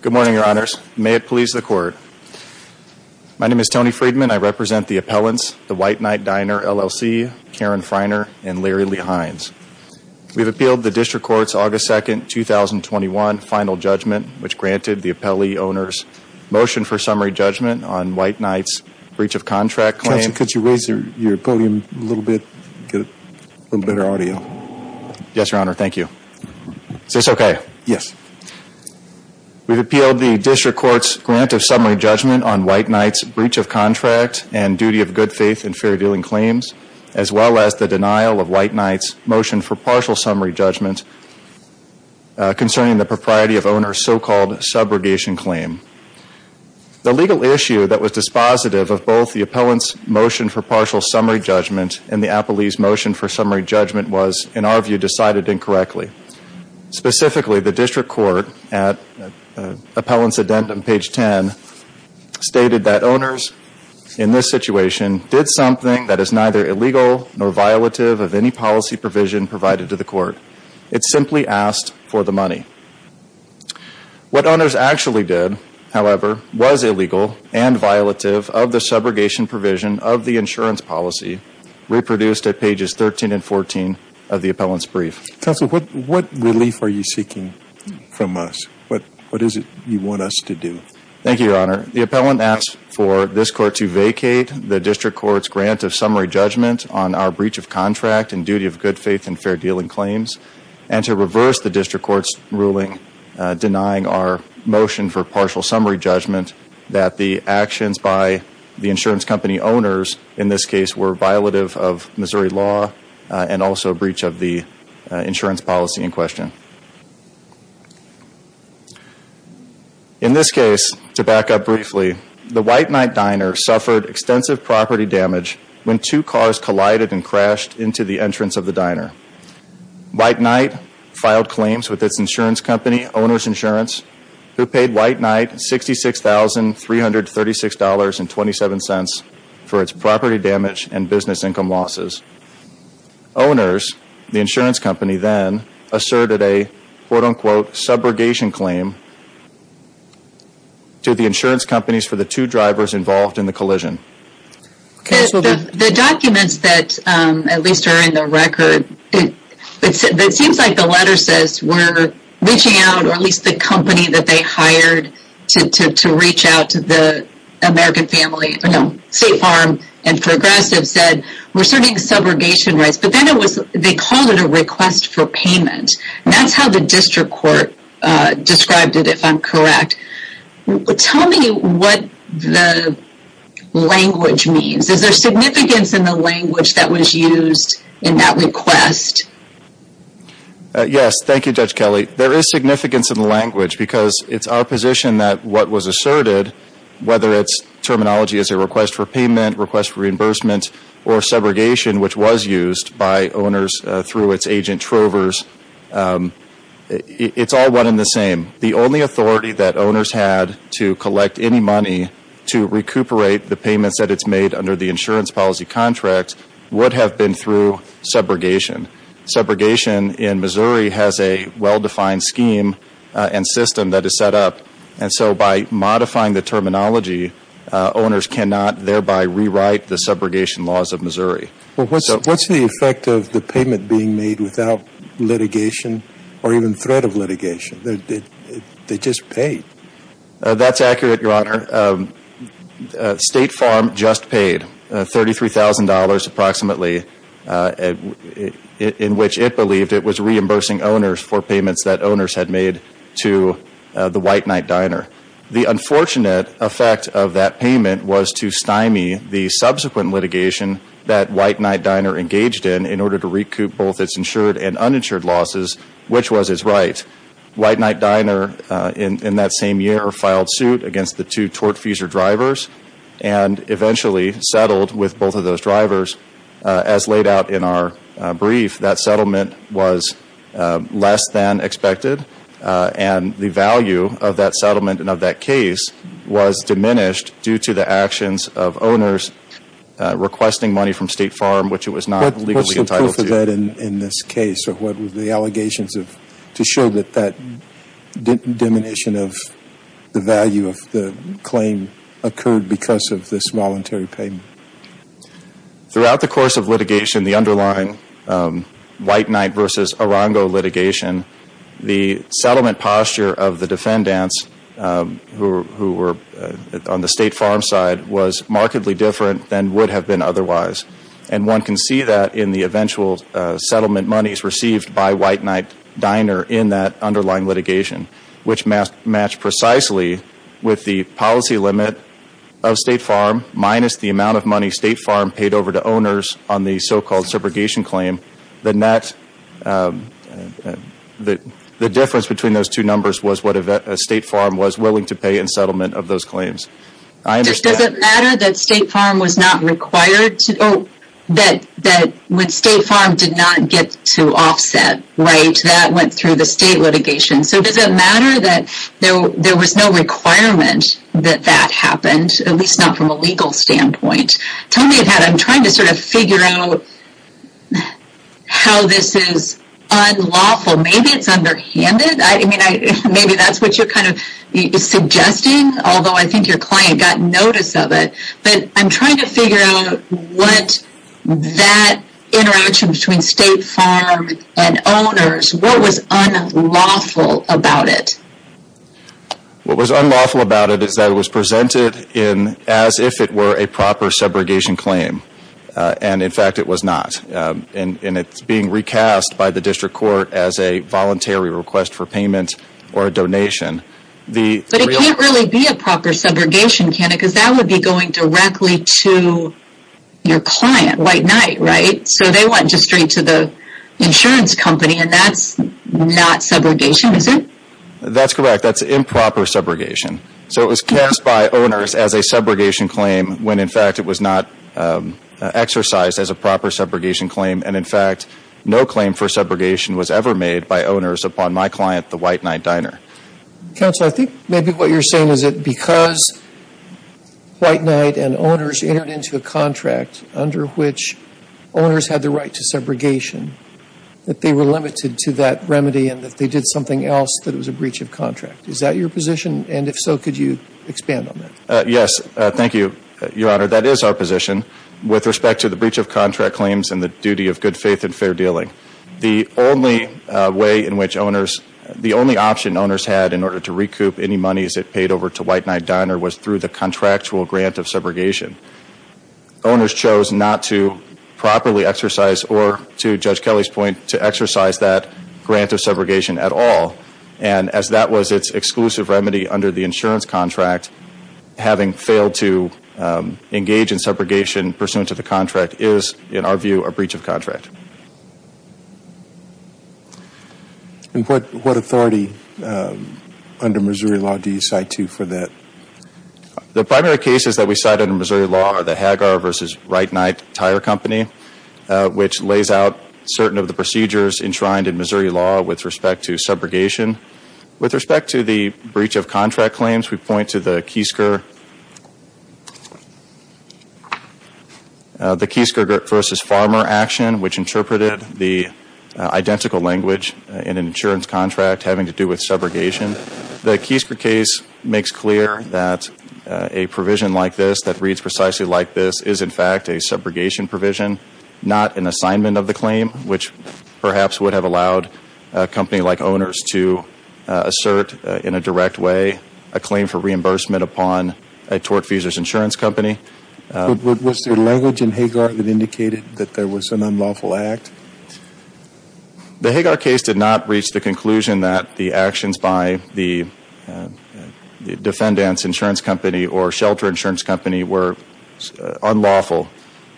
Good morning, your honors. May it please the court. My name is Tony Friedman. I represent the appellants, the White Knight Diner, LLC, Karen Freiner and Larry Lee Hines. We've appealed the district court's August 2nd, 2021 final judgment, which granted the appellee owners motion for summary judgment on White Knight's breach of contract claim. Counsel, could you raise your podium a little bit? Get a little better audio. Yes, your honor. Thank you. Is this okay? Yes. We've appealed the district court's grant of summary judgment on White Knight's breach of contract and duty of good faith and fair dealing claims, as well as the denial of White Knight's motion for partial summary judgment concerning the propriety of owner so-called subrogation claim. The legal issue that was dispositive of both the appellant's motion for partial summary judgment and the appellee's motion for summary judgment was, in our view, decided incorrectly. Specifically, the district court at appellant's addendum, page 10, stated that owners in this situation did something that is neither illegal nor violative of any policy provision provided to the court. It simply asked for the money. What owners actually did, however, was illegal and violative of the subrogation provision of the insurance policy, reproduced at pages 13 and 14 of the appellant's brief. Counsel, what relief are you seeking from us? What is it you want us to do? Thank you, your honor. The appellant asked for this court to vacate the district court's grant of summary judgment on our breach of contract and duty of good faith and fair dealing claims, and to reverse the district court's ruling denying our motion for partial summary judgment that the actions by the insurance company owners, in this case, were violative of Missouri law and also breach of the insurance policy in question. In this case, to back up briefly, the White Knight Diner suffered extensive property damage when two cars collided and crashed into the entrance of the diner. White Knight filed claims with its insurance company, Owner's Insurance, who paid White Knight $66,336.27 for its property damage and business income losses. Owners, the insurance company then, asserted a quote-unquote subrogation claim to the insurance companies for the two drivers involved in the collision. The documents that at least are in the record, it seems like the letter says we're reaching out, or at least the company that they hired to reach out to the American family, State Farm and Progressive, said we're serving subrogation rights, but then they called it a request for payment. That's how the district court described it, if I'm correct. Tell me what the language means. Is there significance in the language that was used in that request? Yes. Thank you, Judge Kelly. There is significance in the language because it's our position that what was asserted, whether its terminology is a request for payment, request for reimbursement, or subrogation, which was used by owners through its agent Trovers, it's all one and the same. The only authority that owners had to collect any money to recuperate the payments that it's made under the insurance policy contract would have been through subrogation. Subrogation in Missouri has a well-defined scheme and system that is set up, and so by modifying the terminology, owners cannot thereby rewrite the subrogation laws of Missouri. What's the effect of the payment being made without litigation or even threat of litigation? They just paid. That's accurate, Your Honor. State Farm just paid $33,000 approximately, in which it believed it was reimbursing owners for payments that owners had made to the White Knight Diner. The unfortunate effect of that payment was to stymie the subsequent litigation that White Knight Diner engaged in in order to recoup both its insured and uninsured filed suit against the two tortfeasor drivers and eventually settled with both of those drivers. As laid out in our brief, that settlement was less than expected, and the value of that settlement and of that case was diminished due to the actions of owners requesting money from State Farm, which it was not legally entitled to. What's the proof of that in this case, or what were the allegations to show that that diminution of the value of the claim occurred because of this voluntary payment? Throughout the course of litigation, the underlying White Knight v. Arango litigation, the settlement posture of the defendants who were on the State Farm side was markedly different than would have been otherwise, and one can see that in the eventual settlement monies received by White Knight Diner in that underlying litigation, which matched precisely with the policy limit of State Farm minus the amount of money State Farm paid over to owners on the so-called subrogation claim. The difference between those two numbers was what a State Farm was willing to pay in settlement of those claims. Does it matter that State Farm was not required that when State Farm did not get to offset, that went through the State litigation? Does it matter that there was no requirement that that happened, at least not from a legal standpoint? Tell me about it. I'm trying to figure out how this is unlawful. Maybe it's underhanded. Maybe that's what you're suggesting, although I think your client got notice of it, but I'm trying to figure what that interaction between State Farm and owners, what was unlawful about it? What was unlawful about it is that it was presented as if it were a proper subrogation claim, and in fact it was not, and it's being recast by the District Court as a voluntary request for payment or a donation. But it can't really be a proper subrogation, can it? Because that would be going directly to your client, White Knight, right? So they went straight to the insurance company, and that's not subrogation, is it? That's correct. That's improper subrogation. So it was cast by owners as a subrogation claim, when in fact it was not exercised as a proper subrogation claim, and in fact no claim for subrogation was ever made by owners upon my client, the White Knight Diner. Counselor, I think maybe what you're saying is that because White Knight and owners entered into a contract under which owners had the right to subrogation, that they were limited to that remedy and that they did something else that was a breach of contract. Is that your position? And if so, could you expand on that? Yes, thank you, Your Honor. That is our position with respect to the breach of contract claims and the duty of good faith and fair dealing. The only way in which owners, the only option owners had in order to recoup any paid over to White Knight Diner was through the contractual grant of subrogation. Owners chose not to properly exercise, or to Judge Kelly's point, to exercise that grant of subrogation at all, and as that was its exclusive remedy under the insurance contract, having failed to engage in subrogation pursuant to the contract is, in our view, a breach of contract. And what authority under Missouri law do you cite to for that? The primary cases that we cite under Missouri law are the Hagar v. White Knight Tire Company, which lays out certain of the procedures enshrined in Missouri law with respect to subrogation. With respect to the breach of contract claims, we point to the Keysker case. The Keysker v. Farmer action, which interpreted the identical language in an insurance contract having to do with subrogation, the Keysker case makes clear that a provision like this that reads precisely like this is, in fact, a subrogation provision, not an assignment of the claim, which perhaps would have allowed a company like owners to assert in a direct way a claim for reimbursement upon a tortfeasor's insurance company. Was there language in Hagar that indicated that there was an unlawful act? The Hagar case did not reach the conclusion that the actions by the defendant's insurance company or shelter insurance company were unlawful.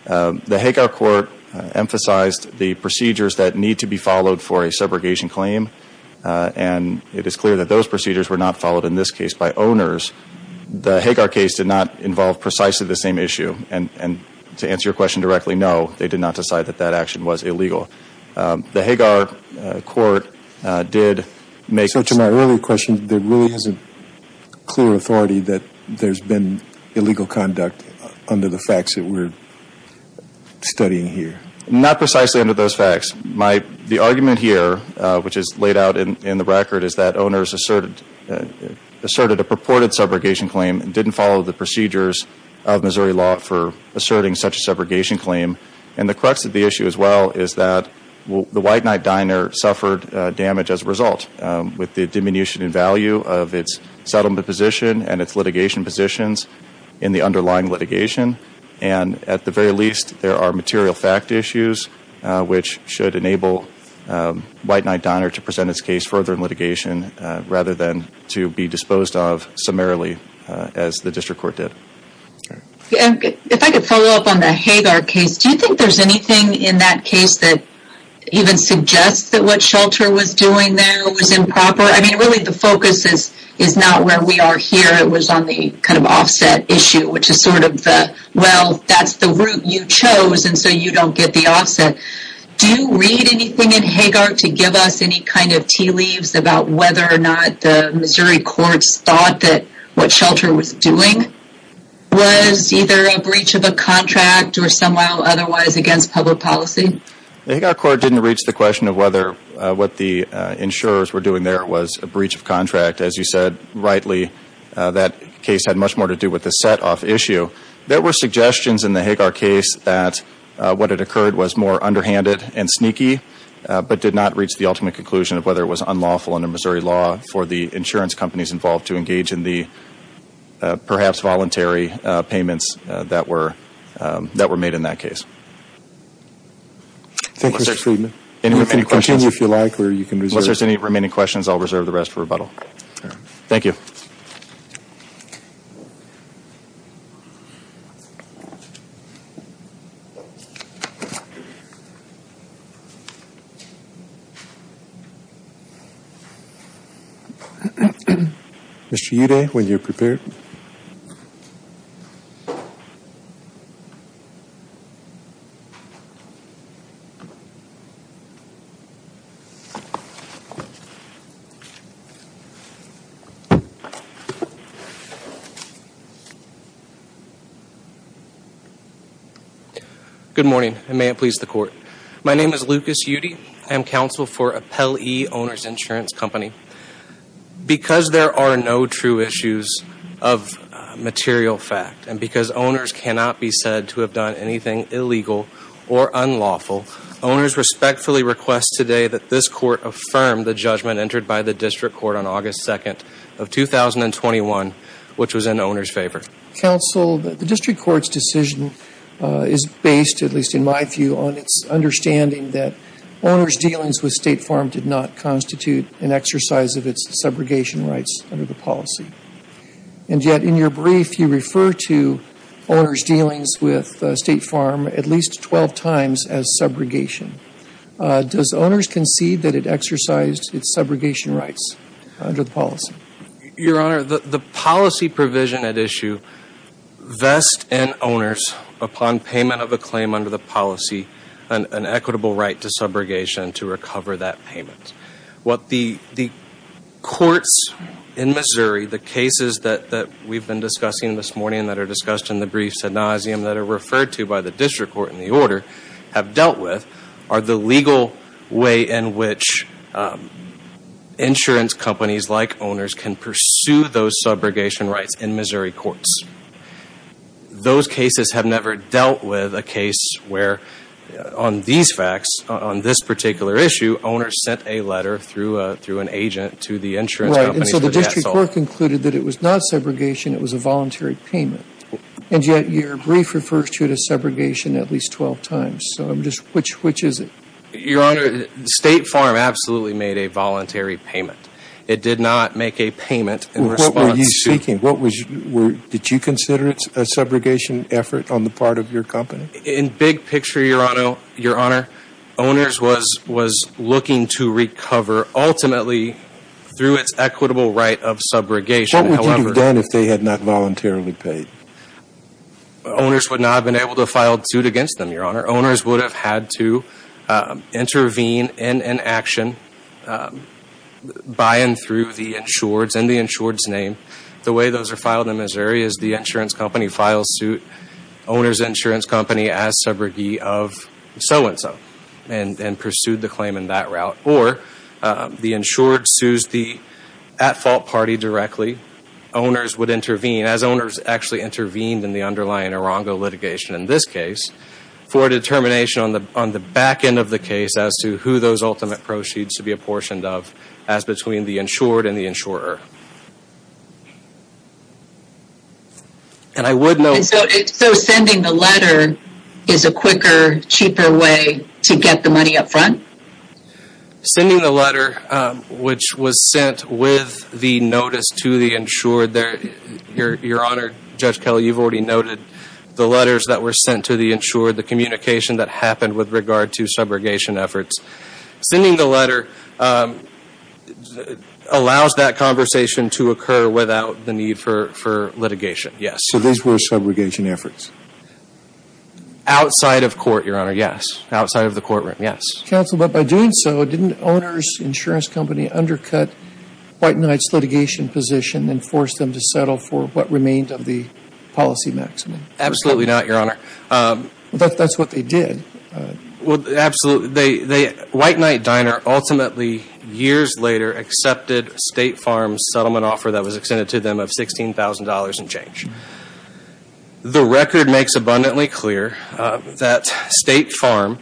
The Hagar court emphasized the procedures that need to be followed for a subrogation claim, and it is clear that those procedures were not by owners. The Hagar case did not involve precisely the same issue, and to answer your question directly, no, they did not decide that that action was illegal. The Hagar court did make So to my earlier question, there really isn't clear authority that there's been illegal conduct under the facts that we're studying here? Not precisely under those facts. The argument here, which is laid out in the record, is that owners asserted a purported subrogation claim and didn't follow the procedures of Missouri law for asserting such a subrogation claim. And the crux of the issue as well is that the White Knight Diner suffered damage as a result, with the diminution in value of its settlement position and its litigation positions in the underlying litigation. And at the very least, there are rather than to be disposed of summarily, as the district court did. If I could follow up on the Hagar case, do you think there's anything in that case that even suggests that what Shelter was doing there was improper? I mean, really, the focus is is not where we are here. It was on the kind of offset issue, which is sort of the, well, that's the route you chose, and so you don't get the offset. Do you read anything in Hagar to give us any kind of tea leaves about whether or not the Missouri courts thought that what Shelter was doing was either a breach of a contract or somehow otherwise against public policy? The Hagar court didn't reach the question of whether what the insurers were doing there was a breach of contract. As you said, rightly, that case had much more to do with the set-off issue. There were suggestions in the Hagar case that what had occurred was more underhanded and sneaky, but did not reach the ultimate conclusion of whether it was unlawful under Missouri law for the insurance companies involved to engage in the perhaps voluntary payments that were made in that case. Thank you. Unless there's any remaining questions, I'll reserve the rest for you. Mr. Uday, when you're prepared. Okay. Good morning, and may it please the court. My name is Lucas Uday. I am counsel for Appel E. Owner's Insurance Company. Because there are no true issues of material fact and because owners cannot be said to have done anything illegal or unlawful, owners respectfully request today that this court affirm the judgment entered by the district court on August 2nd of 2021, which was in owner's favor. Counsel, the district court's decision is based, at least in my view, on its understanding that owner's dealings with State Farm did not constitute an exercise of its dealings with State Farm at least 12 times as subrogation. Does owners concede that it exercised its subrogation rights under the policy? Your Honor, the policy provision at issue vests in owners, upon payment of a claim under the policy, an equitable right to subrogation to recover that payment. What the courts in Missouri, the cases that we've been discussing this morning that are discussed in the brief synosium that are referred to by the district court in the order, have dealt with are the legal way in which insurance companies like owners can pursue those subrogation rights in Missouri courts. Those cases have never dealt with a case where on these facts, on this particular issue, owners sent a letter through an agent to the insurance company. So the district court concluded that it was not subrogation, it was a voluntary payment. And yet your brief refers to it as subrogation at least 12 times. So which is it? Your Honor, State Farm absolutely made a voluntary payment. It did not make a payment in response. What were you speaking? Did you consider it a subrogation effort on the part of your company? In big of subrogation. What would you have done if they had not voluntarily paid? Owners would not have been able to file suit against them, Your Honor. Owners would have had to intervene in an action by and through the insureds and the insured's name. The way those are filed in Missouri is the insurance company files suit, owner's insurance company as subrogee of so and so, and pursued the claim in that route. Or the insured sues the at-fault party directly. Owners would intervene, as owners actually intervened in the underlying Arango litigation in this case, for a determination on the back end of the case as to who those ultimate proceeds should be apportioned of as between the insured and the insurer. And I would know... So sending the letter is a quicker, cheaper way to get the money up front? Sending the letter, which was sent with the notice to the insured... Your Honor, Judge Kelly, you've already noted the letters that were sent to the insured, the communication that happened with regard to subrogation efforts. Sending the letter allows that conversation to occur without the need for litigation, yes. So these were subrogation efforts? Outside of court, Your Honor, yes. Outside of the courtroom, yes. Counsel, but by doing so, didn't owner's insurance company undercut White Knight's litigation position and force them to settle for what remained of the policy maxim? Absolutely not, Your Honor. That's what they did. Well, absolutely. White Knight Diner ultimately, years later, accepted State Farm's settlement offer that was extended to them of $16,000 and change. The record makes abundantly clear that State Farm,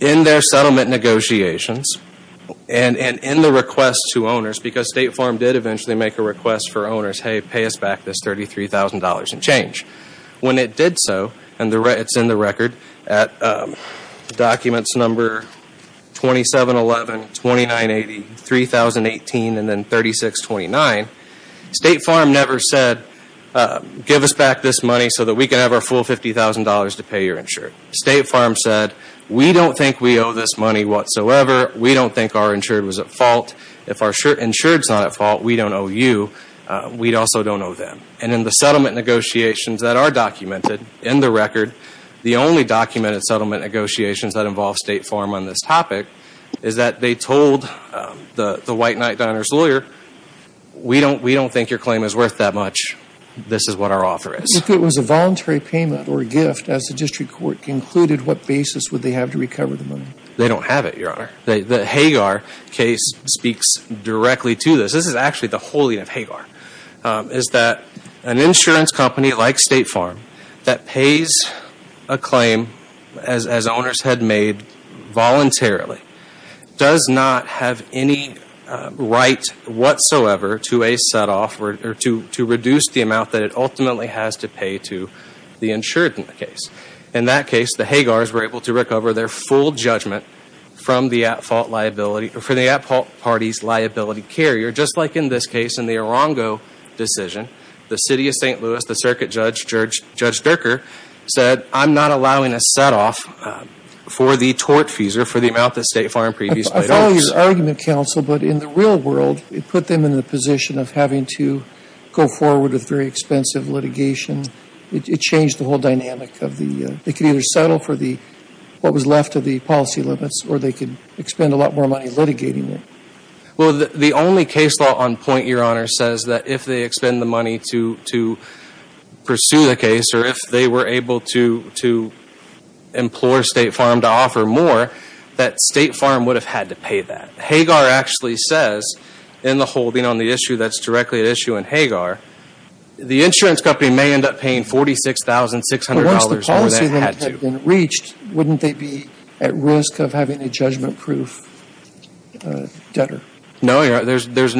in their settlement negotiations and in the request to owners, because State Farm did eventually make a request for owners, hey, pay us back this $33,000 and change. When it did so, and it's in the record at documents number 2711, 2980, 3018, and then 3629, State Farm never said, give us back this money so that we can have our full $50,000 to pay your insured. State Farm said, we don't think we owe this money whatsoever. We don't think our insured was at fault. If our insured's not at fault, we don't owe you. We also don't owe them. And in the settlement negotiations that are documented in the record, the only documented settlement negotiations that involve State Farm on this topic is that they told the White Knight Diner's lawyer, we don't think your claim is worth that much. This is what our offer is. If it was a voluntary payment or a gift, as the district court concluded, what basis would they have to recover the money? They don't have it, Your Honor. The Hagar case speaks directly to this. This is actually the money that the owners had made voluntarily. It does not have any right whatsoever to a set-off or to reduce the amount that it ultimately has to pay to the insured in the case. In that case, the Hagars were able to recover their full judgment from the at-fault liability or from the at-fault party's liability carrier, just like in this case in the Arango decision. The City of St. Louis, the circuit judge, Judge Durker, said, I'm not allowing a set-off for the tort fees or for the amount that State Farm previously owed us. I follow your argument, counsel, but in the real world, it put them in the position of having to go forward with very expensive litigation. It changed the whole dynamic of the, they could either settle for the, what was left of the policy limits, or they could expend a lot more money litigating it. Well, the only case law on point, Your Honor, says that if they expend the money to pursue the case, or if they were able to implore State Farm to offer more, that State Farm would have had to pay that. Hagar actually says in the holding on the issue that's directly at issue in Hagar, the insurance company may end up paying $46,600 more than it had to. Once the policy limit had been reached, wouldn't they be at risk of having a judgment-proof debtor? No, Your Honor. There's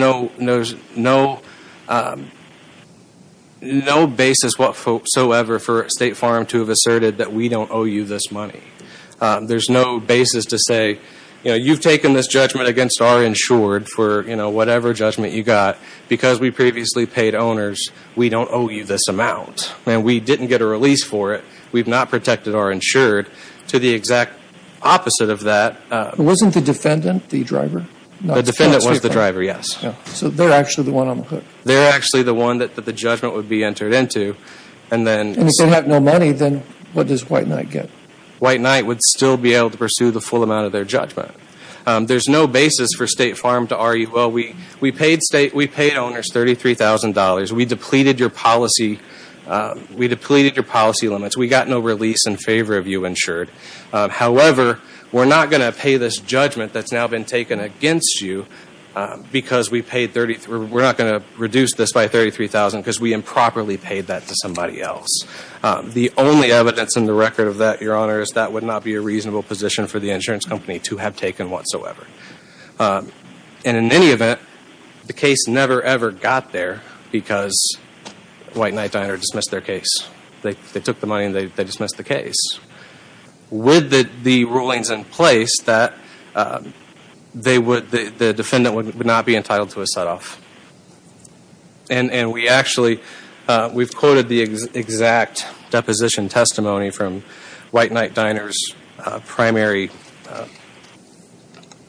no basis whatsoever for State Farm to have asserted that we don't owe you this money. There's no basis to say, you know, you've taken this judgment against our insured for, you know, whatever judgment you got. Because we previously paid owners, we don't owe you this amount. And we didn't get a release for it. We've not protected our insured. To the exact opposite of that... Wasn't the defendant the driver? The defendant was the driver, yes. So they're actually the one on the hook? They're actually the one that the judgment would be entered into. And then... And if they have no money, then what does White Knight get? White Knight would still be able to pursue the full amount of their judgment. There's no basis for State Farm to argue, well, we paid state, we paid owners $33,000. We depleted your policy, we depleted your policy limits. We got no release in favor of you insured. However, we're not going to pay this judgment that's now been taken against you because we paid 33... We're not going to reduce this by $33,000 because we improperly paid that to somebody else. The only evidence in the record of that, Your Honor, is that would not be a reasonable position for the insurance company to have taken whatsoever. And in any event, the case never ever got there because White Knight dismissed their case. They took the money and they dismissed the case. With the rulings in place that they would... The defendant would not be entitled to a set-off. And we actually... We've quoted the exact deposition testimony from White Knight Diner's primary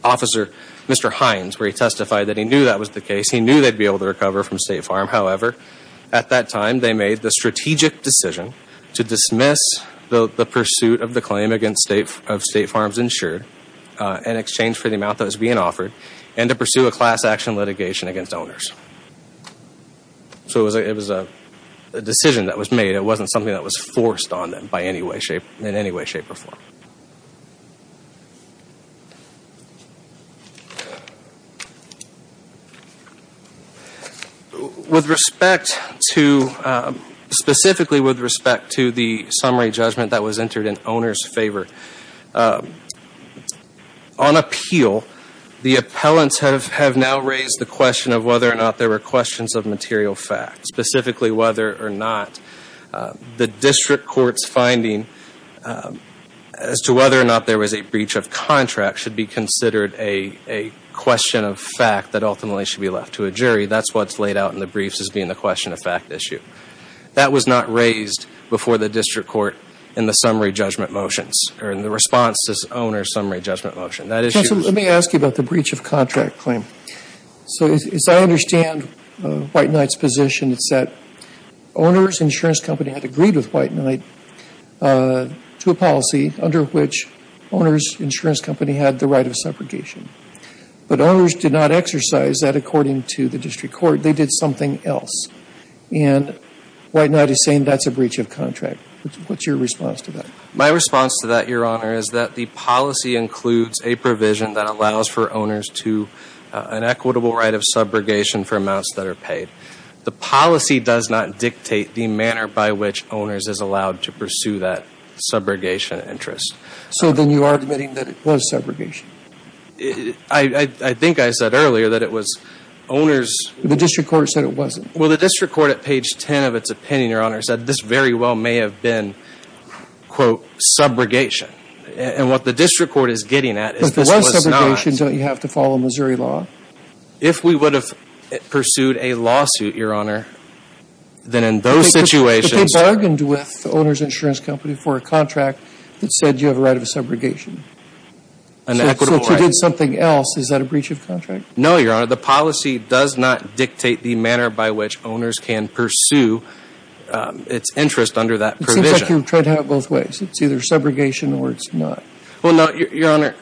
officer, Mr. Hines, where he testified that he knew that was the case. He knew they'd be able to recover from State Farm. However, at that time, they made the strategic decision to dismiss the pursuit of the claim against State Farm's insured in exchange for the amount that was being offered and to pursue a class action litigation against owners. So it was a decision that was made. It wasn't something that was forced on them by any way, in any way, shape, or form. With respect to... Specifically with respect to the summary judgment that was entered in owner's favor, on appeal, the appellants have now raised the question of whether or not there were questions of material fact, specifically whether or not the district court's finding as to whether or not there was a breach of contract should be considered a question of fact that ultimately should be left to a jury. That's what's laid out in the briefs as being the question of fact issue. That was not raised before the district court in the summary judgment motions or in the response to this owner's summary judgment motion. That issue... I understand White Knight's position. It's that owner's insurance company had agreed with White Knight to a policy under which owner's insurance company had the right of separation. But owners did not exercise that according to the district court. They did something else. And White Knight is saying that's a breach of contract. What's your response to that? My response to that, Your Honor, is that the policy includes a provision that allows for owners to an equitable right of subrogation for amounts that are paid. The policy does not dictate the manner by which owners is allowed to pursue that subrogation interest. So then you are admitting that it was subrogation. I think I said earlier that it was owners... The district court said it wasn't. Well, the district court at page 10 of its opinion, Your Honor, said this very well may have been, quote, subrogation. And what the district court is getting at is this was not. Don't you have to follow Missouri law? If we would have pursued a lawsuit, Your Honor, then in those situations... But they bargained with the owner's insurance company for a contract that said you have a right of subrogation. An equitable right. So if you did something else, is that a breach of contract? No, Your Honor. The policy does not dictate the manner by which owners can pursue its interest under that provision. It seems like you tried to have subrogation or it's not. Well, no, Your Honor,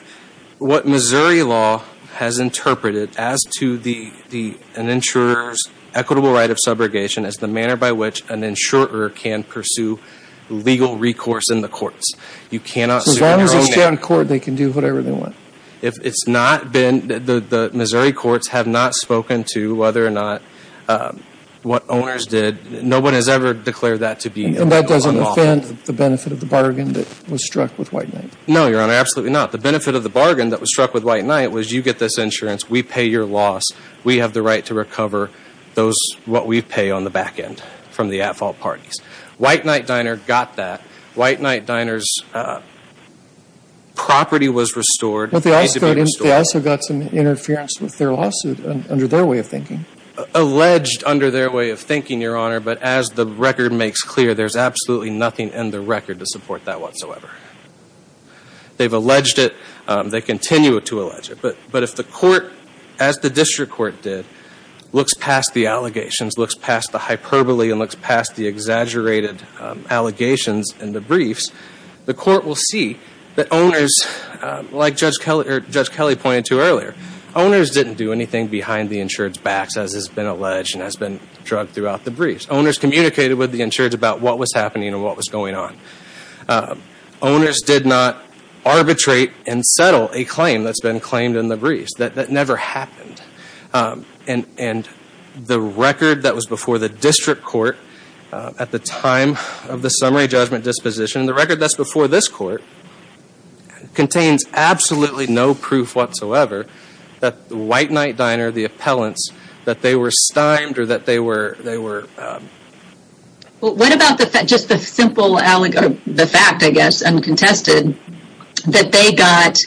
what Missouri law has interpreted as to an insurer's equitable right of subrogation as the manner by which an insurer can pursue legal recourse in the courts. You cannot... As long as they stay on court, they can do whatever they want. If it's not been... The Missouri courts have not spoken to whether or not what owners did. No one has ever declared that to be... And that doesn't offend the benefit of the bargain that was struck with White Knight? No, Your Honor, absolutely not. The benefit of the bargain that was struck with White Knight was you get this insurance, we pay your loss, we have the right to recover what we pay on the back end from the at-fault parties. White Knight Diner got that. White Knight Diner's property was restored. But they also got some interference with their lawsuit under their way of thinking. Alleged under their way of thinking, Your Honor, but as the record makes clear, there's absolutely nothing in the record to support that whatsoever. They've alleged it. They continue to allege it. But if the court, as the district court did, looks past the allegations, looks past the hyperbole and looks past the exaggerated allegations and the briefs, the court will see that owners, like Judge Kelly pointed to earlier, owners didn't do anything behind the insured's backs as has been alleged and has been drugged throughout the briefs. Owners communicated with the insured's about what was happening and what was going on. Owners did not arbitrate and settle a claim that's been claimed in the briefs. That never happened. And the record that was before the district court at the time of the summary judgment disposition, the record that's before this court, contains absolutely no proof whatsoever that the White Knight Diner, the appellants, that they were stymied or that they were, they were... What about the fact, just the simple allegation, the fact, I guess, uncontested, that they got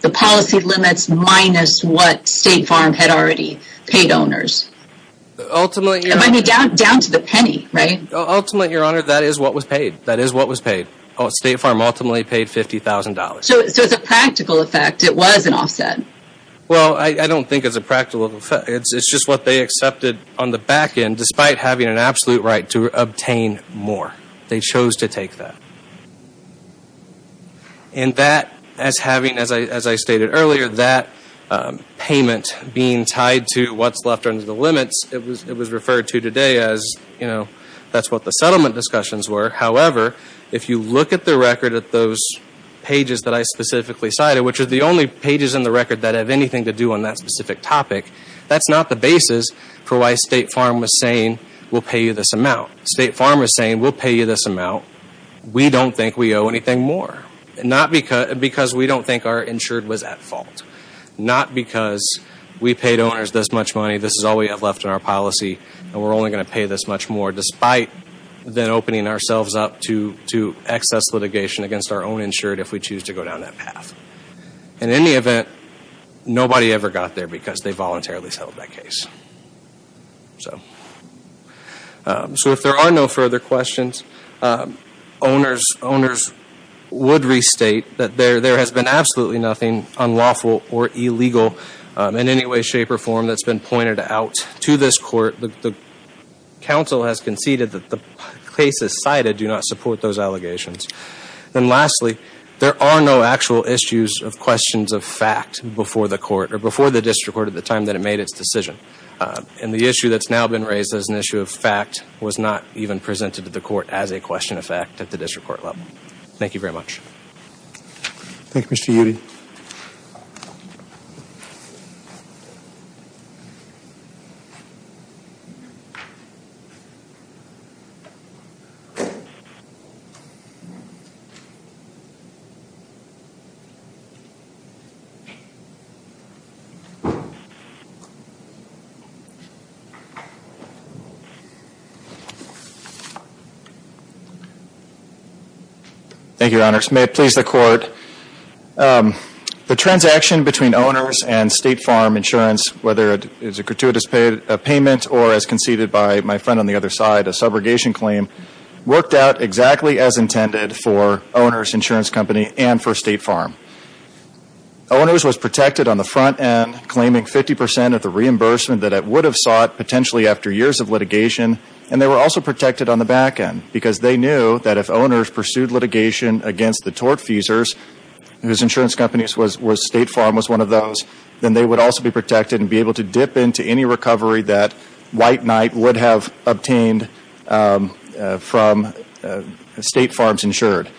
the policy limits minus what State Farm had already paid owners? Ultimately... Down to the penny, right? Ultimately, Your Honor, that is what was paid. That is what was paid. State Farm ultimately paid $50,000. So it's a practical effect. It was an offset. Well, I don't think it's a practical effect. It's just what they accepted on the back end, despite having an absolute right to obtain more. They chose to take that. And that, as having, as I stated earlier, that payment being tied to what's left under the limits, it was referred to today as, you know, that's what the settlement discussions were. However, if you look at the record at those pages that I specifically cited, which are the only pages in the record that have anything to do on that specific topic, that's not the basis for why State Farm was saying, we'll pay you this amount. State Farm was saying, we'll pay you this amount. We don't think we owe anything more. Not because, because we don't think our insured was at fault. Not because we paid owners this much money. This is all we have left in our policy. And we're only going to pay this much more, despite then opening ourselves up to excess litigation against our own insured if we choose to go down that path. In any event, nobody ever got there because they voluntarily settled that case. So, so if there are no further questions, owners, owners would restate that there, there has been absolutely nothing unlawful or illegal in any way, shape, or form that's been pointed out to this court. The, the council has conceded that the cases cited do not support those allegations. And lastly, there are no actual issues of questions of fact before the court or before the district court at the time that it made its decision. And the issue that's now been raised as an issue of fact was not even presented to the court as a question of fact at the district court level. Thank you very much. Thank you, Mr. Yudy. Thank you, Your Honors. May it please the court. The transaction between Owners and State Farm Insurance, whether it is a gratuitous payment or as conceded by my friend on the other side, a subrogation claim, worked out exactly as intended for Owners Insurance Company and for State Farm. Owners was protected on the front end, claiming 50% of the reimbursement that it would have sought potentially after years of litigation. And they were also protected on the back end because they knew that if Owners pursued litigation against the tortfeasors, whose insurance companies was, was State Farm was one of those, then they would also be protected and be able to dip into any recovery that White Knight would have obtained from State Farm's insured.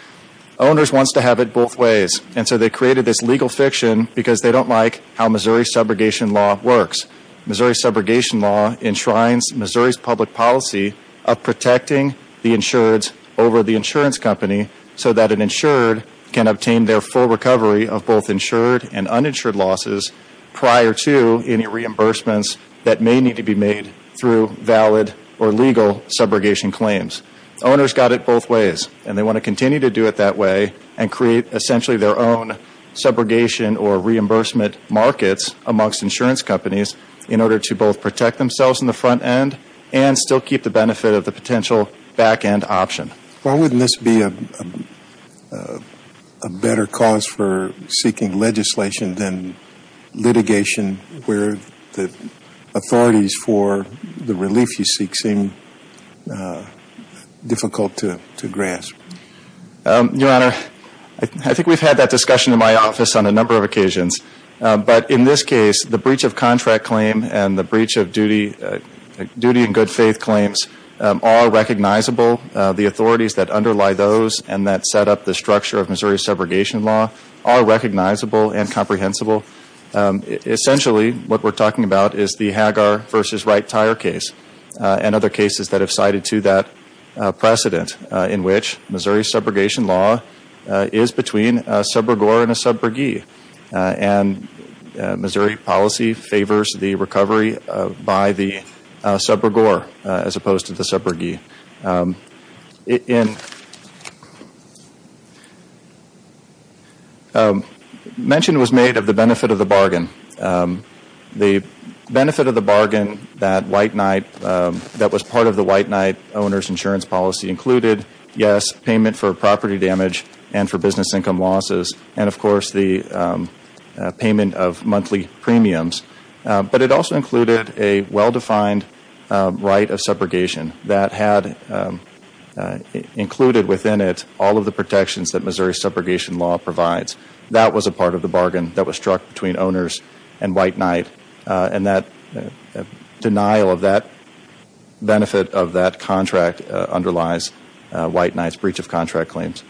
Owners wants to have it both ways. And so they created this legal fiction because they don't like how Missouri's subrogation law works. Missouri's subrogation law enshrines Missouri's policy of protecting the insureds over the insurance company so that an insured can obtain their full recovery of both insured and uninsured losses prior to any reimbursements that may need to be made through valid or legal subrogation claims. Owners got it both ways and they want to continue to do it that way and create essentially their own subrogation or reimbursement markets amongst insurance companies in order to both protect themselves on the front end and still keep the benefit of the potential back end option. Why wouldn't this be a better cause for seeking legislation than litigation where the authorities for the relief you seek seem difficult to, to grasp? Your Honor, I think we've had that discussion in my office on a number of occasions. But in this case, the breach of contract claim and the breach of duty and good faith claims are recognizable. The authorities that underlie those and that set up the structure of Missouri's subrogation law are recognizable and comprehensible. Essentially, what we're talking about is the Hagar v. Wright tire case and other cases that have cited to that precedent in which Missouri's subrogore and a subrogee. And Missouri policy favors the recovery by the subrogore as opposed to the subrogee. Mention was made of the benefit of the bargain. The benefit of the bargain that White Knight, that was part of the White Knight owner's insurance policy included, yes, payment for property damage and for business income losses and, of course, the payment of monthly premiums. But it also included a well-defined right of subrogation that had included within it all of the protections that Missouri's subrogation law provides. That was a part of the bargain that was struck between owners and White Knight. And that denial of that benefit of that contract underlies White Knight's breach of contract claims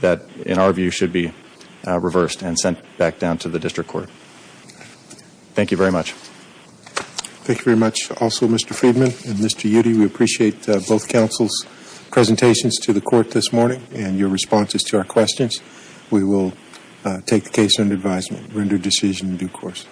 that, in our view, should be reversed and sent back down to the district court. Thank you very much. Thank you very much also, Mr. Friedman and Mr. Yudy. We appreciate both counsel's presentations to the court this morning and your responses to our questions. We will take the case under advisement, render decision in due course.